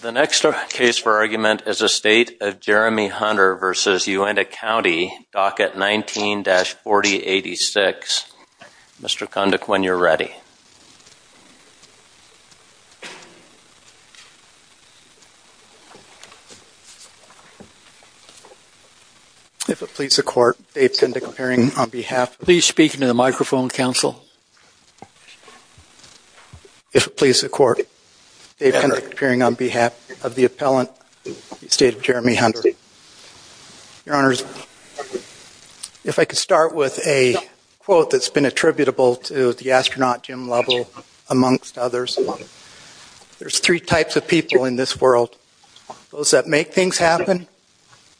The next case for argument is a State of Jeremy Hunter v. Uintah County, Docket 19-4086. Mr. Konduk, when you're ready. If it please the Court, Dave Konduk appearing on behalf. Please speak into the microphone, Counsel. If it please the Court, Dave Konduk appearing on behalf of the appellant, State of Jeremy Hunter. Your Honors, if I could start with a quote that's been attributable to the astronaut Jim Lovell, amongst others. There's three types of people in this world. Those that make things happen,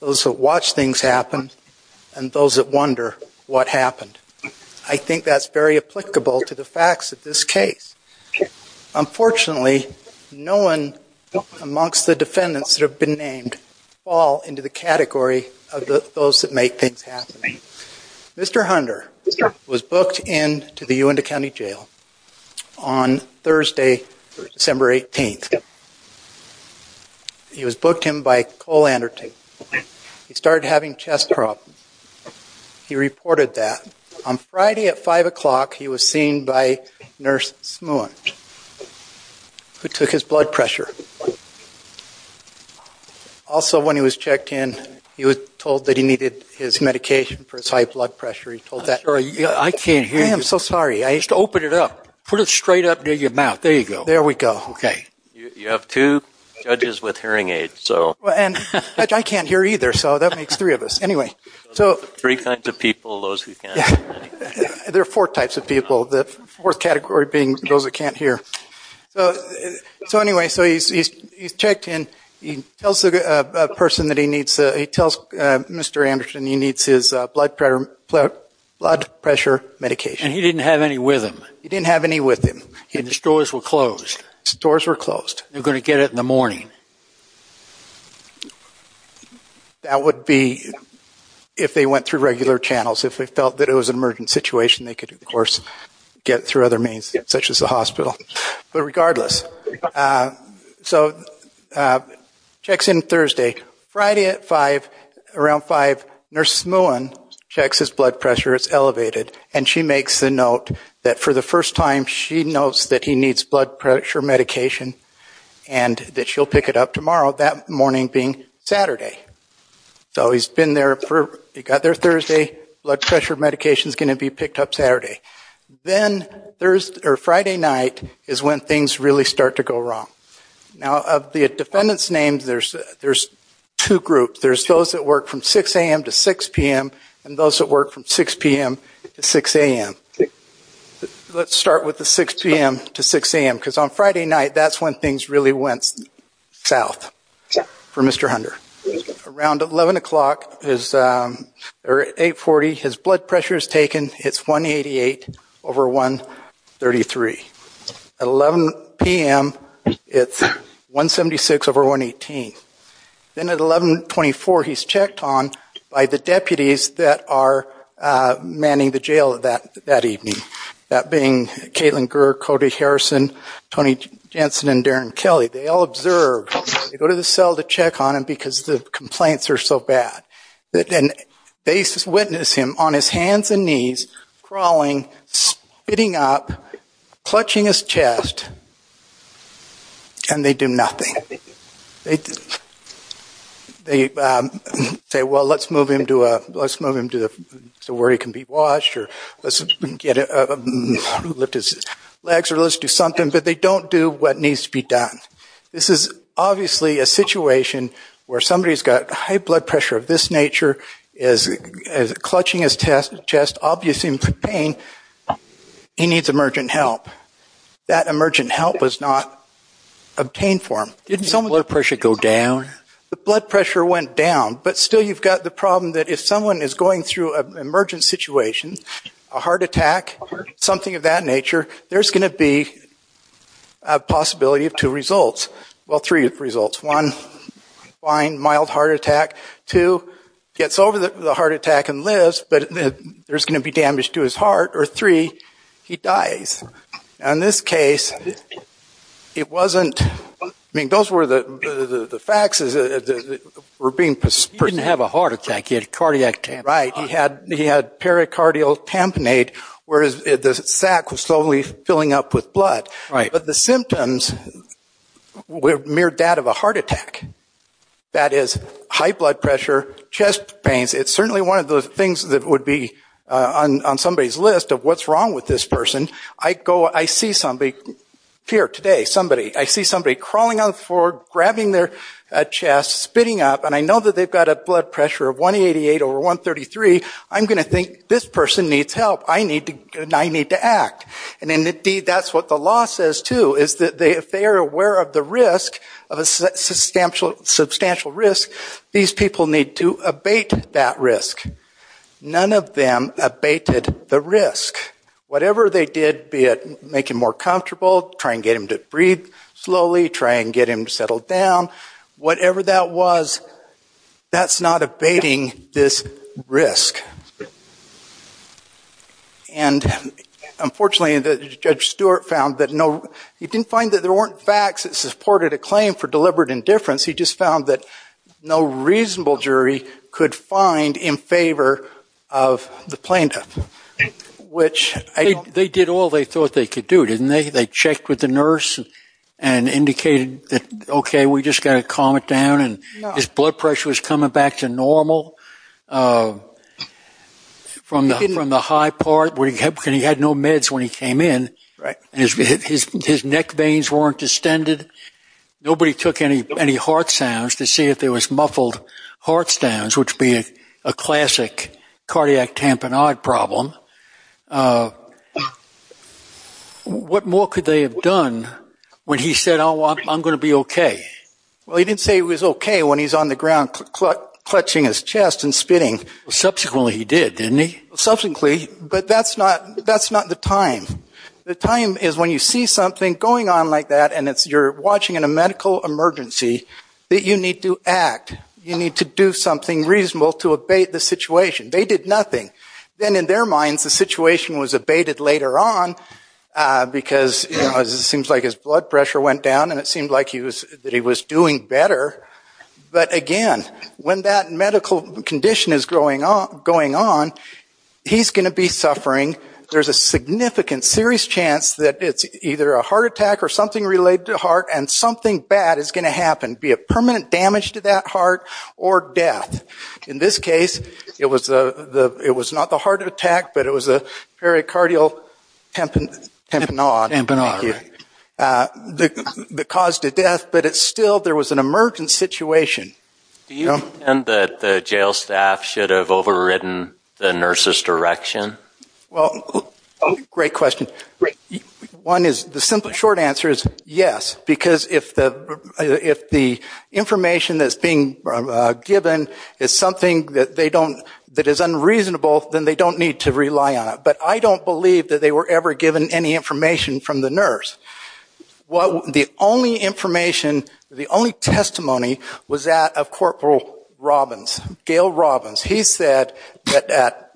those that watch things happen, and those that wonder what happened. I think that's very applicable to the facts of this case. Unfortunately, no one amongst the defendants that have been named fall into the category of those that make things happen. Mr. Hunter was booked into the Uintah County Jail on He reported that. On Friday at 5 o'clock, he was seen by Nurse Smuant, who took his blood pressure. Also, when he was checked in, he was told that he needed his medication for his high blood pressure. I'm sorry, I can't hear you. I am so sorry. Just open it up. Put it straight up near your mouth. There you go. There we go. Okay. You have two judges with hearing aids. I can't hear either, so that makes three of us. Anyway. Three kinds of people, those who can't hear. There are four types of people, the fourth category being those that can't hear. Anyway, he's checked in. He tells Mr. Anderson he needs his blood pressure medication. And he didn't have any with him. He didn't have any with him. That would be if they went through regular channels. If they felt that it was an emergent situation, they could, of course, get through other means, such as the hospital. But regardless, so checks in Thursday. Friday at 5, around 5, Nurse Smuant checks his blood pressure. It's elevated. And she makes the note that for the first time, she notes that he needs blood pressure medication and that she'll pick it up tomorrow, that morning being Saturday. So he's been there, he got there Thursday. Blood pressure medication is going to be picked up Saturday. Then Friday night is when things really start to go wrong. Now, of the defendant's names, there's two groups. There's those that work from 6 a.m. to 6 p.m. and those that work from 6 p.m. to 6 a.m. Let's start with the 6 p.m. to 6 a.m. because on Friday night, that's when things really went south for Mr. Hunter. Around 11 o'clock, or 8.40, his blood pressure is taken. It's 188 over 133. At 11 p.m., it's 176 over 118. Then at 11.24, he's manning the jail that evening, that being Kaitlyn Gurr, Cody Harrison, Tony Jensen and Darren Kelly. They all observe. They go to the cell to check on him because the complaints are so bad. They witness him on his hands and knees, crawling, spitting up, clutching his chest, and they do nothing. They say, well, let's move him to where he can be washed or let's lift his legs or let's do something, but they don't do what needs to be done. This is obviously a situation where somebody's got high blood pressure of this nature, clutching his chest, obviously in pain. He needs emergent help. That emergent help was not obtained for him. Didn't his blood pressure go down? The blood pressure went down, but still you've got the problem that if someone is going through an emergent situation, a heart attack, something of that nature, there's going to be a possibility of two results. Well, three results. One, fine, mild heart attack. Two, gets over the heart attack and lives, but there's going to be damage to his heart. Or three, he dies. In this case, it wasn't, I mean, those were the facts that were being presented. He didn't have a heart attack. He had cardiac tamponade. Right. He had pericardial tamponade, whereas the sac was slowly filling up with blood. Right. But the symptoms were mere that of a heart attack. That is, high blood pressure, chest pains. It's certainly one of those things that would be on somebody's list of what's wrong with this person. I go, I see somebody, here today, somebody, I see somebody crawling on the floor, grabbing their chest, spitting up, and I know that they've got a blood pressure of 188 over 133. I'm going to think, this person needs help. I need to act. And indeed, that's what the law says, too, is that if they are aware of the risk, of None of them abated the risk. Whatever they did, be it make him more comfortable, try and get him to breathe slowly, try and get him to settle down, whatever that was, that's not abating this risk. And unfortunately, Judge Stewart found that no, he didn't find that there weren't facts that supported a claim for deliberate indifference. He just found that no reasonable jury could find in favor of the plaintiff. They did all they thought they could do, didn't they? They checked with the nurse and indicated that, okay, we just got to calm it down, and his blood pressure was coming back to normal from the high part. He had no meds when he came in. His neck veins weren't distended. Nobody took any heart sounds to see if there was muffled heart sounds, which would be a classic cardiac tamponade problem. What more could they have done when he said, oh, I'm going to be okay? Well, he didn't say he was okay when he's on the ground clutching his chest and spitting. Subsequently, he did, didn't he? Subsequently, but that's not the time. The time is when you see something going on like that, and you're watching in a medical emergency that you need to act. You need to do something reasonable to abate the situation. They did nothing. Then in their minds, the situation was abated later on because it seems like his blood pressure went down, and it seemed like he was doing better. But again, when that medical condition is going on, he's going to be suffering. There's a significant serious chance that it's either a heart attack or something related to heart, and something bad is going to happen, be it permanent damage to that heart or death. In this case, it was not the heart attack, but it was a pericardial tamponade, the cause to death. But still, there was an emergency situation. Do you think that the jail staff should have overridden the nurse's direction? Well, great question. One is, the simple short answer is yes, because if the information that's being given is something that they don't, that is unreasonable, then they don't need to rely on it. But I don't believe that they were ever given any information from the nurse. The only information, the only testimony was that of Corporal Robbins, Gail Robbins. He said that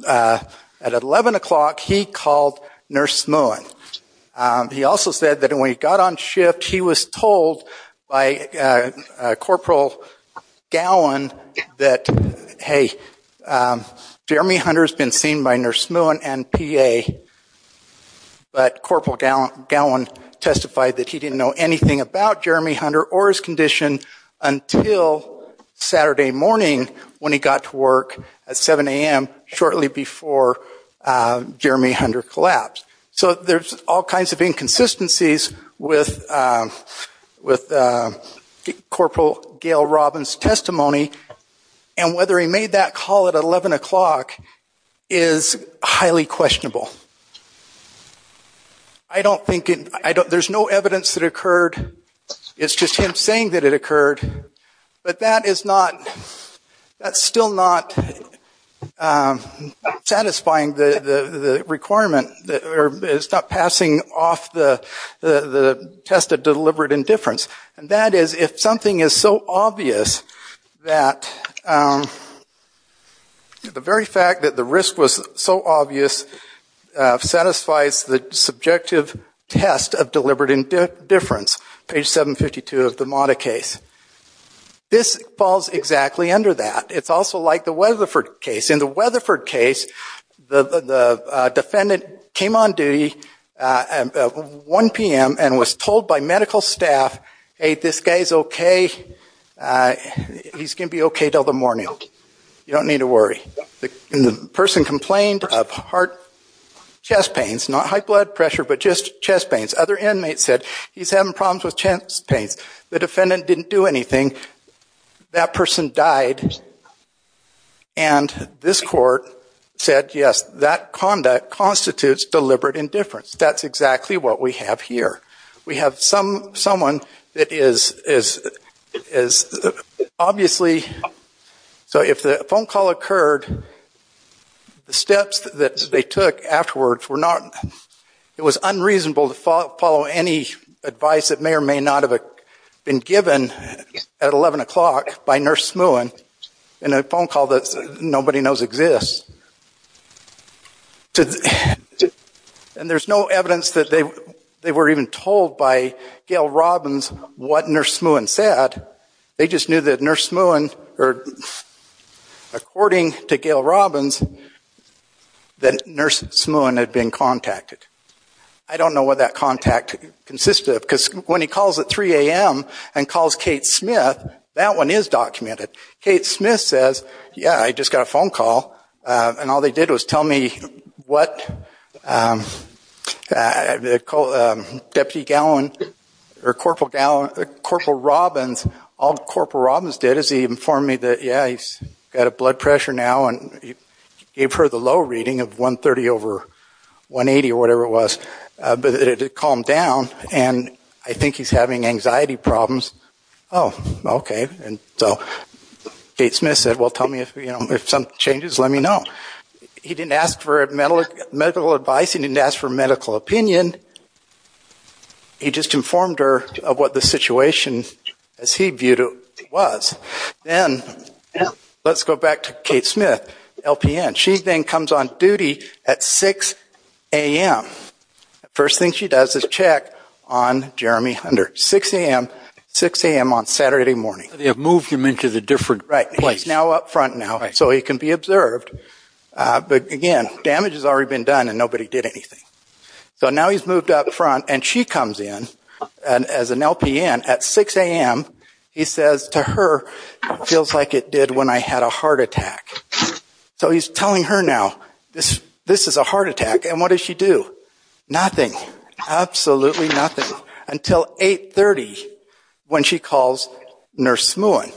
at 11 o'clock, he called Nurse Smuin. He also said that when he got on shift, he was told by Corporal Gowan that, hey, Jeremy Hunter has been seen by Nurse Smuin and PA, but Corporal Gowan testified that he didn't know anything about Jeremy Hunter or his condition until Saturday morning when he got to work at 7 a.m. shortly before Jeremy Hunter collapsed. So there's all kinds of inconsistencies with Corporal Gail Robbins' testimony, and whether he made that call at 11 o'clock is highly questionable. I don't think, there's no evidence that it occurred, it's just him saying that it occurred, but that is not, that's still not satisfying the requirement, it's not passing off the test of deliberate indifference. And that is, if something is so obvious that, the very fact that the risk was so obvious satisfies the subjective test of deliberate indifference, page 752 of the Mata case. This falls exactly under that. It's also like the Weatherford case. In the Weatherford case, the defendant came on duty at 1 p.m. and was told by medical staff, hey, this guy's okay, he's going to be okay until the morning. You don't need to worry. And the person complained of heart, chest pains, not high blood pressure, but just chest pains. Other inmates said, he's having problems with chest pains. The defendant didn't do anything, that person died, and this court said, yes, that conduct constitutes deliberate indifference. That's exactly what we have here. We have someone that is obviously, so if the phone call occurred, the steps that they took afterwards were not, it was unreasonable to follow any advice that may or may not have been given at 11 o'clock by Nurse Smuin in a phone call that nobody knows exists. And there's no evidence that they were even told by Gail Robbins what Nurse Smuin said. They just knew that Nurse Smuin, or according to Gail Robbins, that Nurse Smuin had been contacted. I don't know what that contact consisted of, because when he calls at 3 a.m. and calls Kate Smith, that one is documented. Kate Smith says, yeah, I just got a phone call, and all they did was tell me what Deputy Gallant's own, or Corporal Robbins, all Corporal Robbins did is he informed me that, yeah, he's got a blood pressure now, and he gave her the low reading of 130 over 180, or whatever it was, but it had calmed down, and I think he's having anxiety problems. Oh, okay, and so Kate Smith said, well, tell me if some changes, let me know. He didn't ask for medical advice, he didn't ask for medical opinion, he just informed her of what the situation, as he viewed it, was. Then, let's go back to Kate Smith, LPN. She then comes on duty at 6 a.m. First thing she does is check on Jeremy Hunter, 6 a.m., 6 a.m. on Saturday morning. They have moved him into the different place. Right, he's now up front now, so he can be observed, but again, damage has already been done, and nobody did anything. So now he's moved up front, and she comes in, as an LPN, at 6 a.m., he says to her, it feels like it did when I had a heart attack. So he's telling her now, this is a heart attack, and what does she do? Nothing, absolutely nothing, until 8.30, when she calls Nurse Smuin.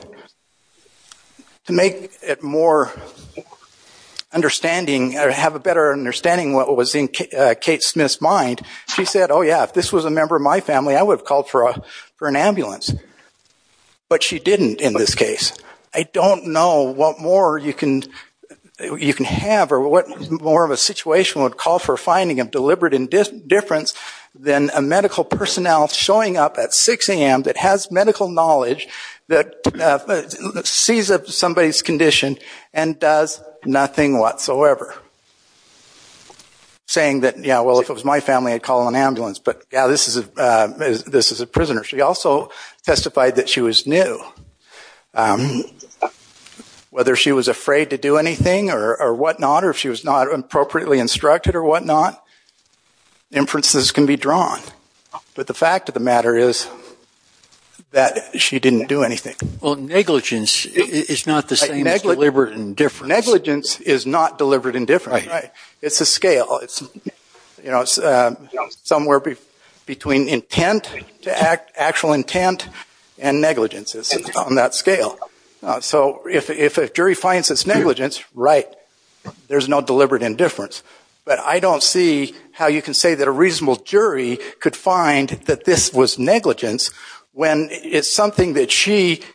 To make it more understanding, or have a better understanding of what was in Kate Smith's mind, she said, oh yeah, if this was a member of my family, I would have called for an ambulance. But she didn't, in this case. I don't know what more you can have, or what more of a situation would call for a finding of deliberate indifference than a medical personnel showing up at 6 a.m. that has medical knowledge, that sees somebody's condition, and does nothing whatsoever. Saying that, yeah, well, if it was my family, I'd call an ambulance, but this is a prisoner. She also testified that she was new. Whether she was afraid to do anything, or whatnot, or if she was not appropriately instructed or whatnot, inferences can be drawn. But the fact of the matter is that she didn't do anything. Well, negligence is not the same as deliberate indifference. Negligence is not deliberate indifference. It's a scale. It's somewhere between intent to actual intent, and negligence is on that scale. So if a jury finds this negligence, right, there's no deliberate indifference. But I don't see how you can say that a reasonable she,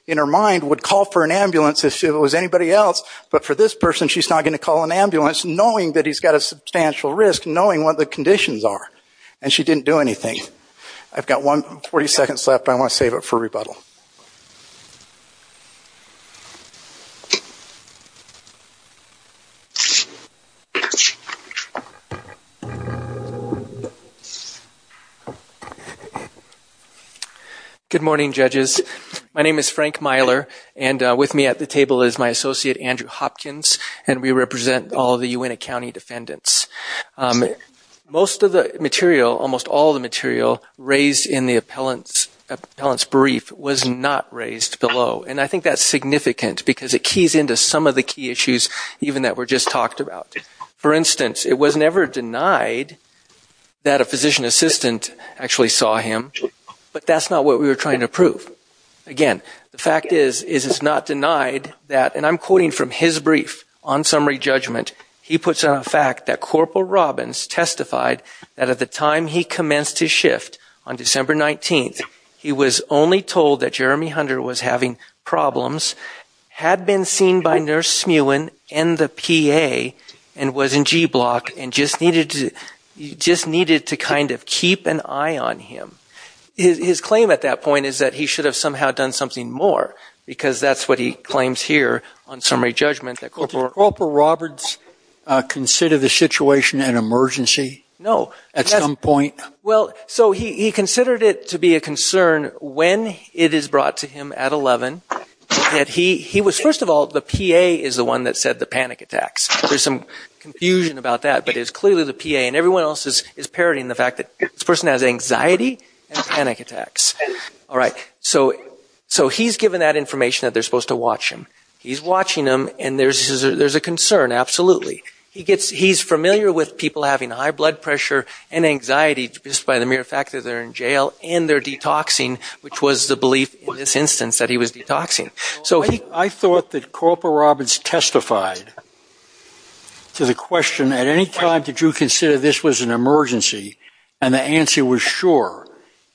in her mind, would call for an ambulance if it was anybody else, but for this person she's not going to call an ambulance, knowing that he's got a substantial risk, knowing what the conditions are. And she didn't do anything. I've got 40 seconds left, but I want to save it for rebuttal. Good morning, judges. My name is Frank Myler, and with me at the table is my associate, Andrew Hopkins, and we represent all the Uintah County defendants. Most of the material, almost all of the material raised in the appellant's brief was not raised below, and I think that's significant because it keys into some of the key issues even that were just talked about. For instance, it was never denied that a physician assistant actually saw him, but that's not what we were trying to prove. Again, the fact is it's not denied that, and I'm quoting from his brief on summary judgment, he puts on a fact that Corporal Robbins testified that at the time he commenced his shift on December 19th, he was only told that Jeremy Hunter was having problems, had been seen by Nurse Smuin and the PA, and was in G block and just needed to kind of keep an eye on him. His claim at that point is that he should have somehow done something more, because that's what he claims here on summary judgment that Corporal Robbins... Did Corporal Robbins consider the situation an emergency at some point? No. So he considered it to be a concern when it is brought to him at 11, that he was, first of all, the PA is the one that said the panic attacks. There's some confusion about that, but it's clearly the PA, and everyone else is parodying the fact that this person has anxiety and panic attacks. All right. So he's given that information that they're supposed to watch him. He's watching him, and there's a concern, absolutely. He's familiar with people having high blood pressure and anxiety just by the mere fact that they're in jail and they're detoxing, which was the belief in this instance that he was detoxing. I thought that Corporal Robbins testified to the question, at any time did you consider this was an emergency, and the answer was sure.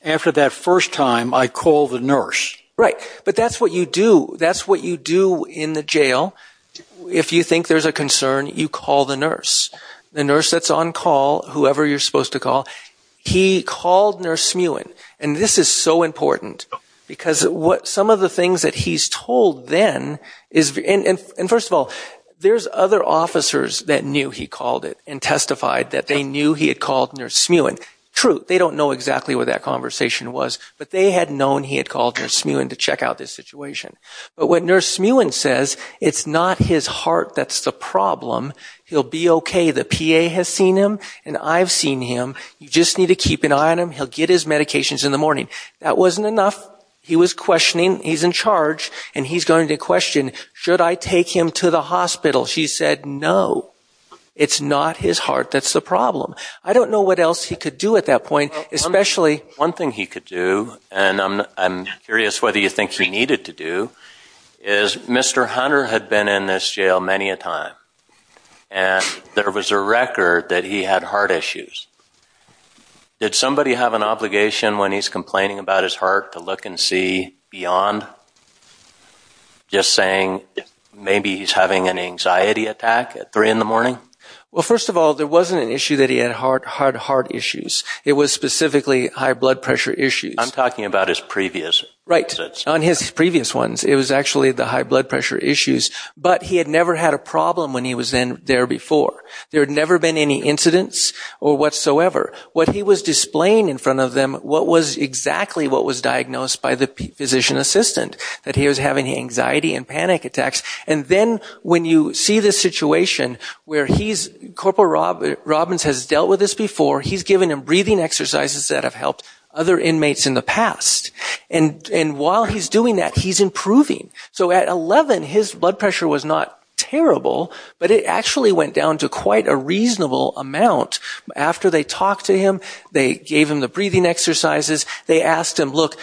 After that first time, I called the nurse. Right. But that's what you do. That's what you do in the jail. If you think there's a concern, you call the nurse. The nurse that's on call, whoever you're supposed to call, he called Nurse Smuin, and this is so important, because some of the things that he's told then is... And first of all, there's other officers that knew he called it and testified that they knew he had called Nurse Smuin. True, they don't know exactly what that conversation was, but they had known he had called Nurse Smuin to check out this situation. But what Nurse Smuin says, it's not his heart that's the problem. He'll be okay. The PA has seen him, and I've seen him. You just need to keep an eye on him. He'll get his medications in the morning. That wasn't enough. He was questioning. He's in charge, and he's going to question, should I take him to the hospital? She said, no, it's not his heart that's the problem. I don't know what else he could do at that point, especially... One thing he could do, and I'm curious whether you think he needed to do, is Mr. Hunter had been in this jail many a time, and there was a record that he had heart issues. Did somebody have an obligation when he's complaining about his heart to look and see beyond? Just saying, maybe he's having an anxiety attack at three in the morning? Well, first of all, there wasn't an issue that he had heart issues. It was specifically high blood pressure issues. I'm talking about his previous visits. Right. On his previous ones, it was actually the high blood pressure issues, but he had never had a problem when he was in there before. There had never been any incidents or whatsoever. What he was displaying in front of them, what was exactly what was diagnosed by the physician assistant, that he was having anxiety and panic attacks. And then when you see this situation where he's... Corporal Robbins has dealt with this before. He's given him breathing exercises that have helped other inmates in the past. And while he's doing that, he's improving. So at 11, his blood pressure was not terrible, but it actually went down to quite a reasonable amount. After they talked to him, they gave him the breathing exercises. They asked him, look,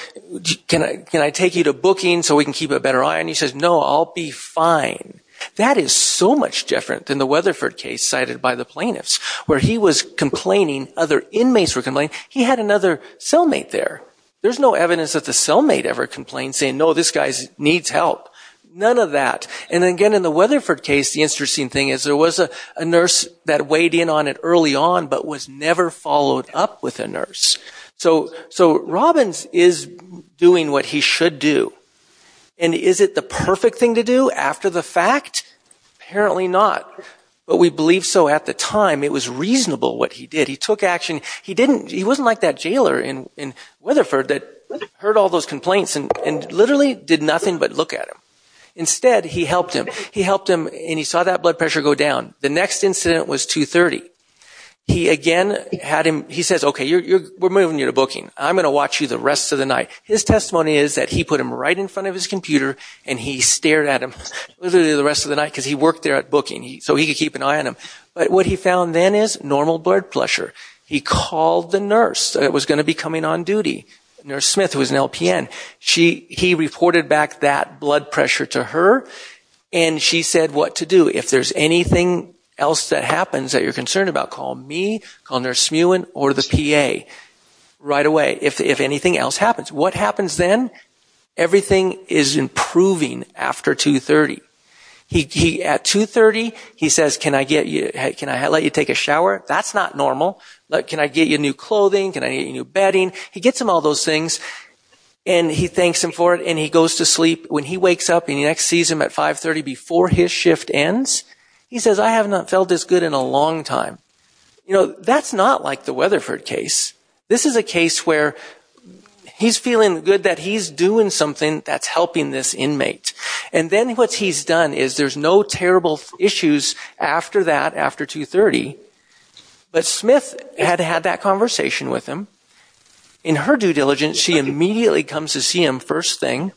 can I take you to booking so we can keep a better eye? And he says, no, I'll be fine. That is so much different than the Weatherford case cited by the plaintiffs, where he was complaining, other inmates were complaining. He had another cellmate there. There's no evidence that the cellmate ever complained saying, no, this guy needs help. None of that. And again, in the Weatherford case, the interesting thing is there was a nurse that weighed in on it early on, but was never followed up with a nurse. So Robbins is doing what he should do. And is it the perfect thing to do after the fact? Apparently not. But we believe so at the time. It was reasonable what he did. He took action. He didn't... He wasn't like that jailer in Weatherford that heard all those complaints and literally did nothing but look at him. Instead, he helped him. He helped him and he saw that blood pressure go down. The next incident was 2.30. He again had him... He says, okay, we're moving you to booking. I'm going to watch you the rest of the night. His testimony is that he put him right in front of his computer and he stared at him literally the rest of the night because he worked there at booking so he could keep an eye on him. But what he found then is normal blood pressure. He called the nurse that was going to be coming on duty. Nurse Smith, who was an LPN. He reported back that blood pressure to her and she said what to do. If there's anything else that happens that you're concerned about, call me, call Nurse Smuin or the PA right away if anything else happens. What happens then? Everything is improving after 2.30. He at 2.30, he says can I let you take a shower? That's not normal. Can I get you new clothing? Can I get you new bedding? He gets him all those things and he thanks him for it and he goes to sleep. When he wakes up in the next season at 5.30 before his shift ends, he says I have not felt this good in a long time. That's not like the Weatherford case. This is a case where he's feeling good that he's doing something that's helping this inmate. And then what he's done is there's no terrible issues after that, after 2.30. But Smith had had that conversation with him. In her due diligence, she immediately comes to see him first thing,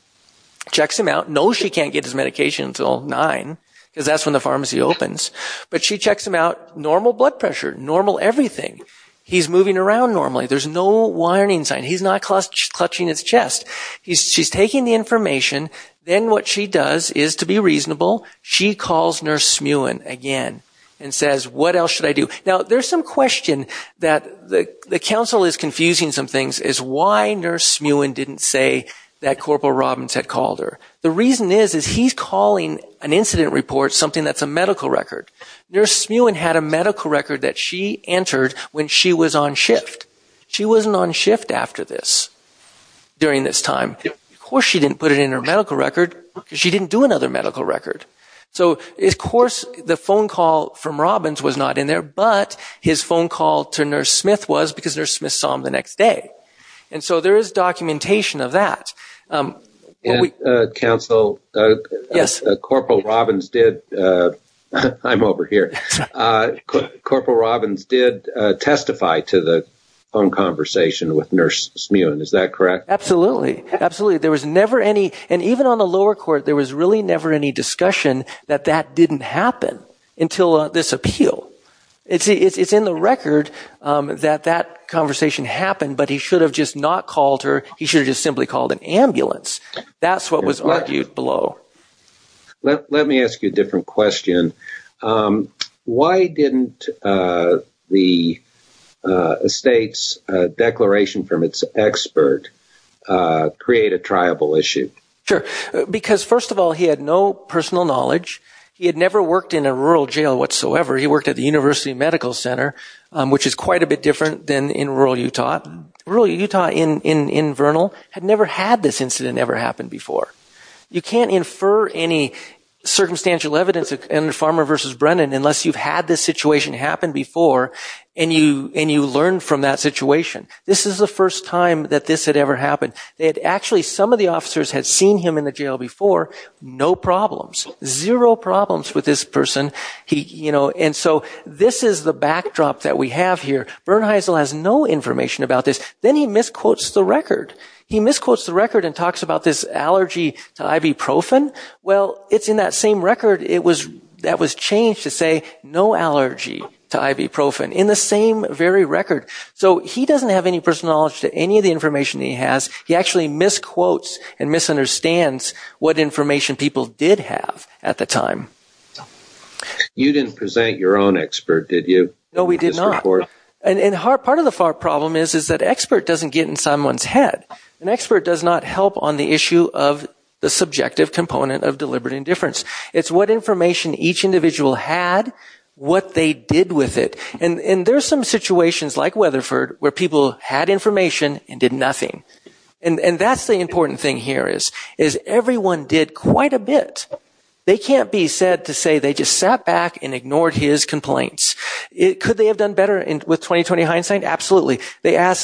checks him out. No, she can't get his medication until 9 because that's when the pharmacy opens. But she checks him out, normal blood pressure, normal everything. He's moving around normally. There's no whining sign. He's not clutching his chest. She's taking the information. Then what she does is, to be reasonable, she calls Nurse Smuin again and says what else should I do? Now there's some question that the council is confusing some things is why Nurse Smuin didn't say that Corporal Robbins had called her. The reason is he's calling an incident report something that's a medical record. Nurse Smuin had a medical record that she entered when she was on shift. She wasn't on shift after this, during this time. Of course she didn't put it in her medical record because she didn't do another medical record. So of course the phone call from Robbins was not in there, but his phone call to Nurse Smith was because Nurse Smith saw him the next day. And so there is documentation of that. And, Council, Corporal Robbins did, I'm over here, Corporal Robbins did testify to the phone conversation with Nurse Smuin. Is that correct? Absolutely. Absolutely. There was never any, and even on the lower court, there was really never any discussion that that didn't happen until this appeal. It's in the record that that conversation happened, but he should have just not called her. He should have just simply called an ambulance. That's what was argued below. Let me ask you a different question. Why didn't the state's declaration from its expert create a triable issue? Sure. Because first of all, he had no personal knowledge. He had never worked in a rural jail whatsoever. He worked at the University Medical Center, which is quite a bit different than in rural Utah. Rural Utah in Vernal had never had this incident ever happen before. You can't infer any circumstantial evidence in Farmer v. Brennan unless you've had this situation happen before and you learned from that situation. This is the first time that this had ever happened. Actually, some of the officers had seen him in the jail before. No problems. Zero problems with this person. And so this is the backdrop that we have here. Bernheisel has no information about this. Then he misquotes the record. He misquotes the record and talks about this allergy to ibuprofen. Well, it's in that same record that was changed to say, no allergy to ibuprofen. In the same very record. So he doesn't have any personal knowledge to any of the information he has. He actually misquotes and misunderstands what information people did have at the time. You didn't present your own expert, did you? No, we did not. Part of the problem is that expert doesn't get in someone's head. An expert does not help on the issue of the subjective component of deliberate indifference. It's what information each individual had, what they did with it. And there's some situations like Weatherford where people had information and did nothing. And that's the important thing here is everyone did quite a bit. They can't be said to say they just sat back and ignored his complaints. Could they have done better with 20-20 hindsight? Absolutely. They said,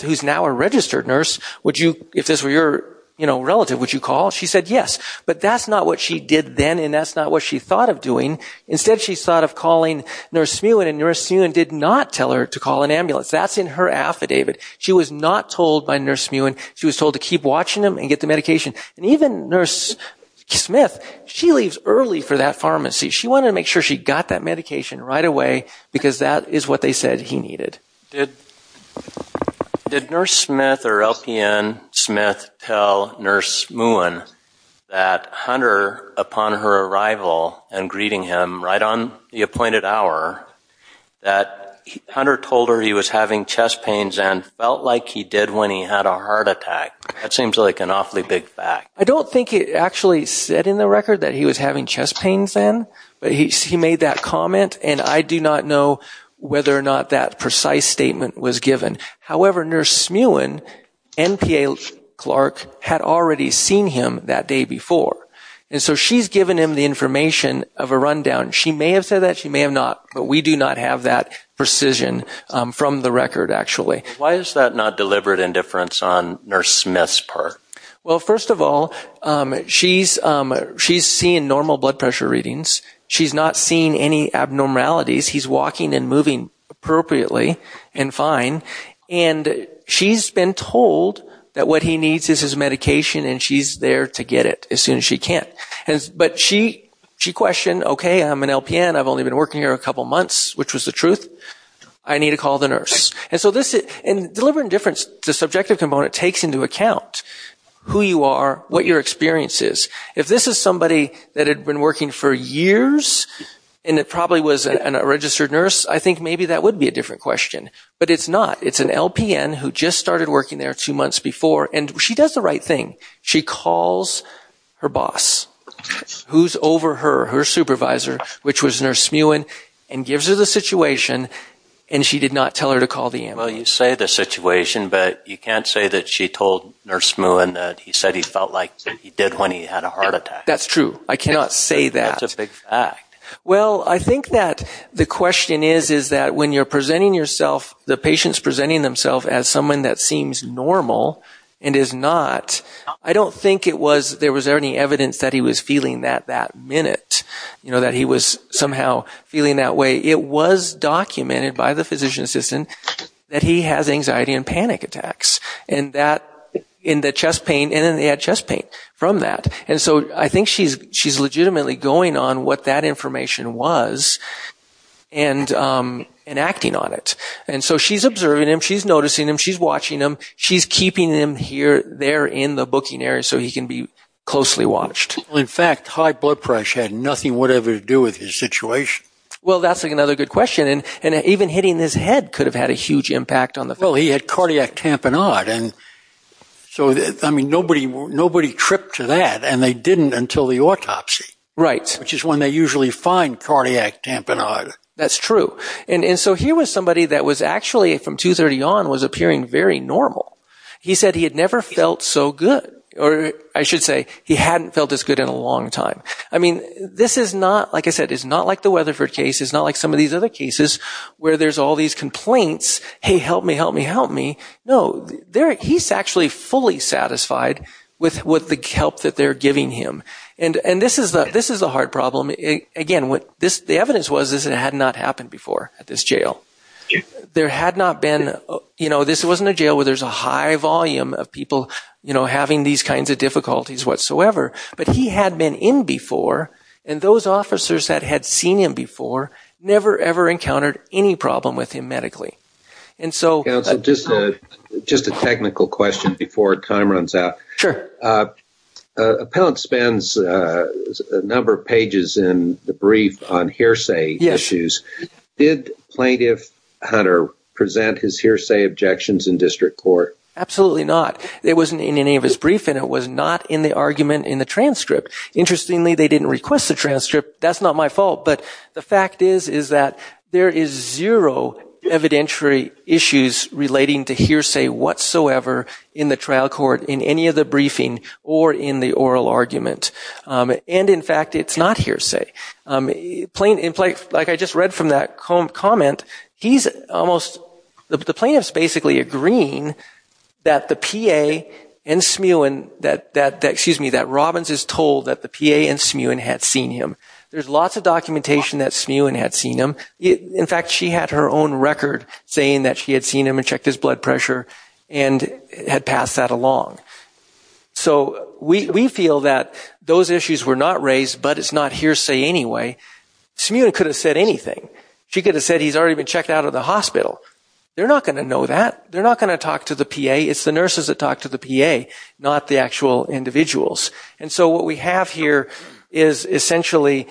she's now a registered nurse. If this were your relative, would you call? She said yes. But that's not what she did then and that's not what she thought of doing. Instead she thought of calling Nurse Smuin and Nurse Smuin did not tell her to call an ambulance. That's in her affidavit. She was not told by Nurse Smuin. She was told to keep watching him and get the medication. And even Nurse Smith, she leaves early for that pharmacy. She wanted to make sure she got that medication right away because that is what they said he needed. Did Nurse Smith or LPN Smith tell Nurse Smuin that Hunter, upon her arrival and greeting him right on the appointed hour, that Hunter told her he was having chest pains and felt like he did when he had a heart attack? That seems like an awfully big fact. I don't think it actually said in the record that he was having chest pains then. But he made that comment and I do not know whether or not that precise statement was given. However, Nurse Smuin and PA Clark had already seen him that day before. And so she's given him the information of a rundown. She may have said that, she may have not, but we do not have that precision from the record actually. Why is that not deliberate indifference on Nurse Smith's part? Well, first of all, she's seeing normal blood pressure readings. She's not seeing any abnormalities. He's walking and moving appropriately and fine. And she's been told that what he needs is his medication and she's there to get it as soon as she can. But she questioned, okay, I'm an LPN, I've only been working here a couple months, which was the truth. I need to call the nurse. And so deliberate indifference, the subjective component, takes into account who you are, what your experience is. If this is somebody that had been working for years and it probably was a registered nurse, I think maybe that would be a different question. But it's not. It's an LPN who just started working there two months before and she does the right thing. She calls her boss, who's over her, her supervisor, which was Nurse Smuin, and gives her the situation and she did not tell her to call the ambulance. Well, you say the situation, but you can't say that she told Nurse Smuin that he said he felt like he did when he had a heart attack. That's true. I cannot say that. That's a big fact. Well, I think that the question is, is that when you're presenting yourself, the patient's presenting themselves as someone that seems normal and is not, I don't think it was, there was any evidence that he was feeling that that minute, you know, that he was somehow feeling that way. It was documented by the physician's assistant that he has anxiety and panic attacks and that, in the chest pain, and then they had chest pain from that. And so I think she's legitimately going on what that information was and acting on it. And so she's observing him, she's noticing him, she's watching him, she's keeping him here, there in the booking area so he can be closely watched. In fact, high blood pressure had nothing whatever to do with his situation. Well, that's another good question. And even hitting his head could have had a huge impact on the... Well, he had cardiac tamponade, and so, I mean, nobody tripped to that, and they didn't until the autopsy, which is when they usually find cardiac tamponade. That's true. And so here was somebody that was actually, from 2.30 on, was appearing very normal. He said he had never felt so good, or I should say, he hadn't felt this good in a long time. I mean, this is not, like I said, it's not like the Weatherford case, it's not like some of these other cases where there's all these complaints, hey, help me, help me, help me. No, he's actually fully satisfied with the help that they're giving him. And this is the hard problem. Again, the evidence was that this had not happened before at this jail. There had not been, you know, this wasn't a jail where there's a high volume of people, you know, having these kinds of difficulties whatsoever, but he had been in before, and those officers that had seen him before never, ever encountered any problem with him medically. And so... Counsel, just a technical question before time runs out. Sure. Appellant spends a number of pages in the brief on hearsay issues. Did Plaintiff Hunter present his hearsay objections in district court? Absolutely not. It wasn't in any of his brief, and it was not in the argument in the transcript. Interestingly, they didn't request the transcript. That's not my fault, but the fact is, is that there is zero evidentiary issues relating to hearsay whatsoever in the trial court in any of the briefing or in the oral argument. And in fact, it's not hearsay. Like I just read from that comment, he's almost... The plaintiff's basically agreeing that the PA and Smuin, excuse me, that Robbins is told that the PA and Smuin had seen him. There's lots of documentation that Smuin had seen him. In fact, she had her own record saying that she had seen him and checked his blood pressure and had passed that along. So we feel that those issues were not raised, but it's not hearsay anyway. Smuin could have said anything. She could have said he's already been checked out of the hospital. They're not going to know that. They're not going to talk to the PA. It's the nurses that talk to the PA, not the actual individuals. And so what we have here is essentially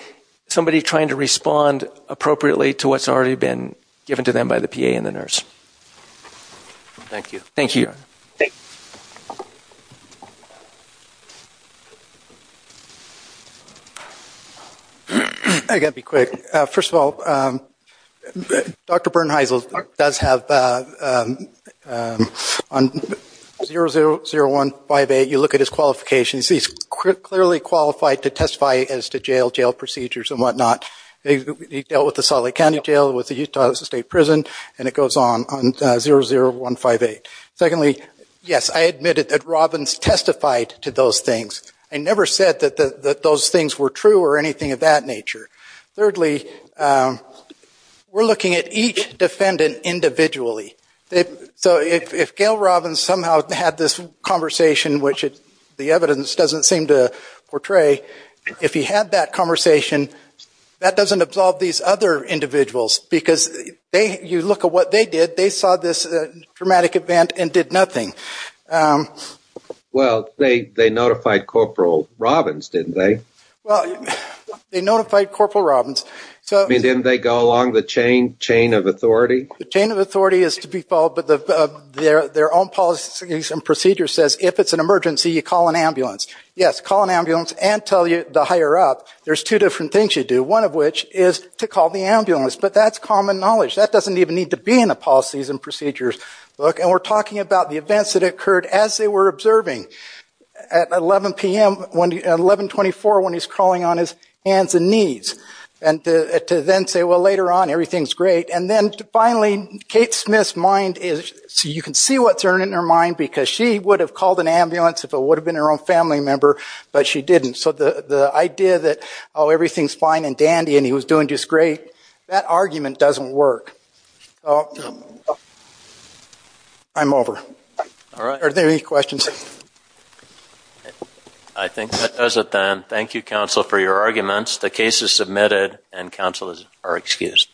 somebody trying to respond appropriately to what's already been given to them by the PA and the nurse. Thank you. Thank you. I've got to be quick. First of all, Dr. Bernheisel does have, on 000158, you look at his qualifications. He's clearly qualified to testify as to jail, jail procedures and whatnot. He dealt with the Salt Lake County Jail, with the Utah State Prison, and it goes on, on 00158. Secondly, yes, I admitted that Robbins testified to those things. I never said that those things were true or anything of that nature. Thirdly, we're looking at each defendant individually. So if Gail Robbins somehow had this conversation, which the evidence doesn't seem to portray, if he had that conversation, that doesn't absolve these other individuals, because you look at what they did. They saw this dramatic event and did nothing. Well, they notified Corporal Robbins, didn't they? Well, they notified Corporal Robbins. I mean, didn't they go along the chain of authority? The chain of authority is to be followed, but their own policies and procedures says if it's an emergency, you call an ambulance. Yes, call an ambulance and tell the higher up. There's two different things you do. One of which is to call the ambulance, but that's common knowledge. That doesn't even need to be in the policies and procedures book. And we're talking about the events that occurred as they were observing at 11 p.m., at 1124, when he's crawling on his hands and knees, and to then say, well, later on, everything's great. And then finally, Kate Smith's mind is, so you can see what's in her mind, because she would have called an ambulance if it would have been her own family member, but she didn't. So the idea that, oh, everything's fine and dandy and he was doing just great, that argument doesn't work. I'm over. Are there any questions? I think that does it then. Thank you, counsel, for your arguments. The case is submitted and counsel are excused.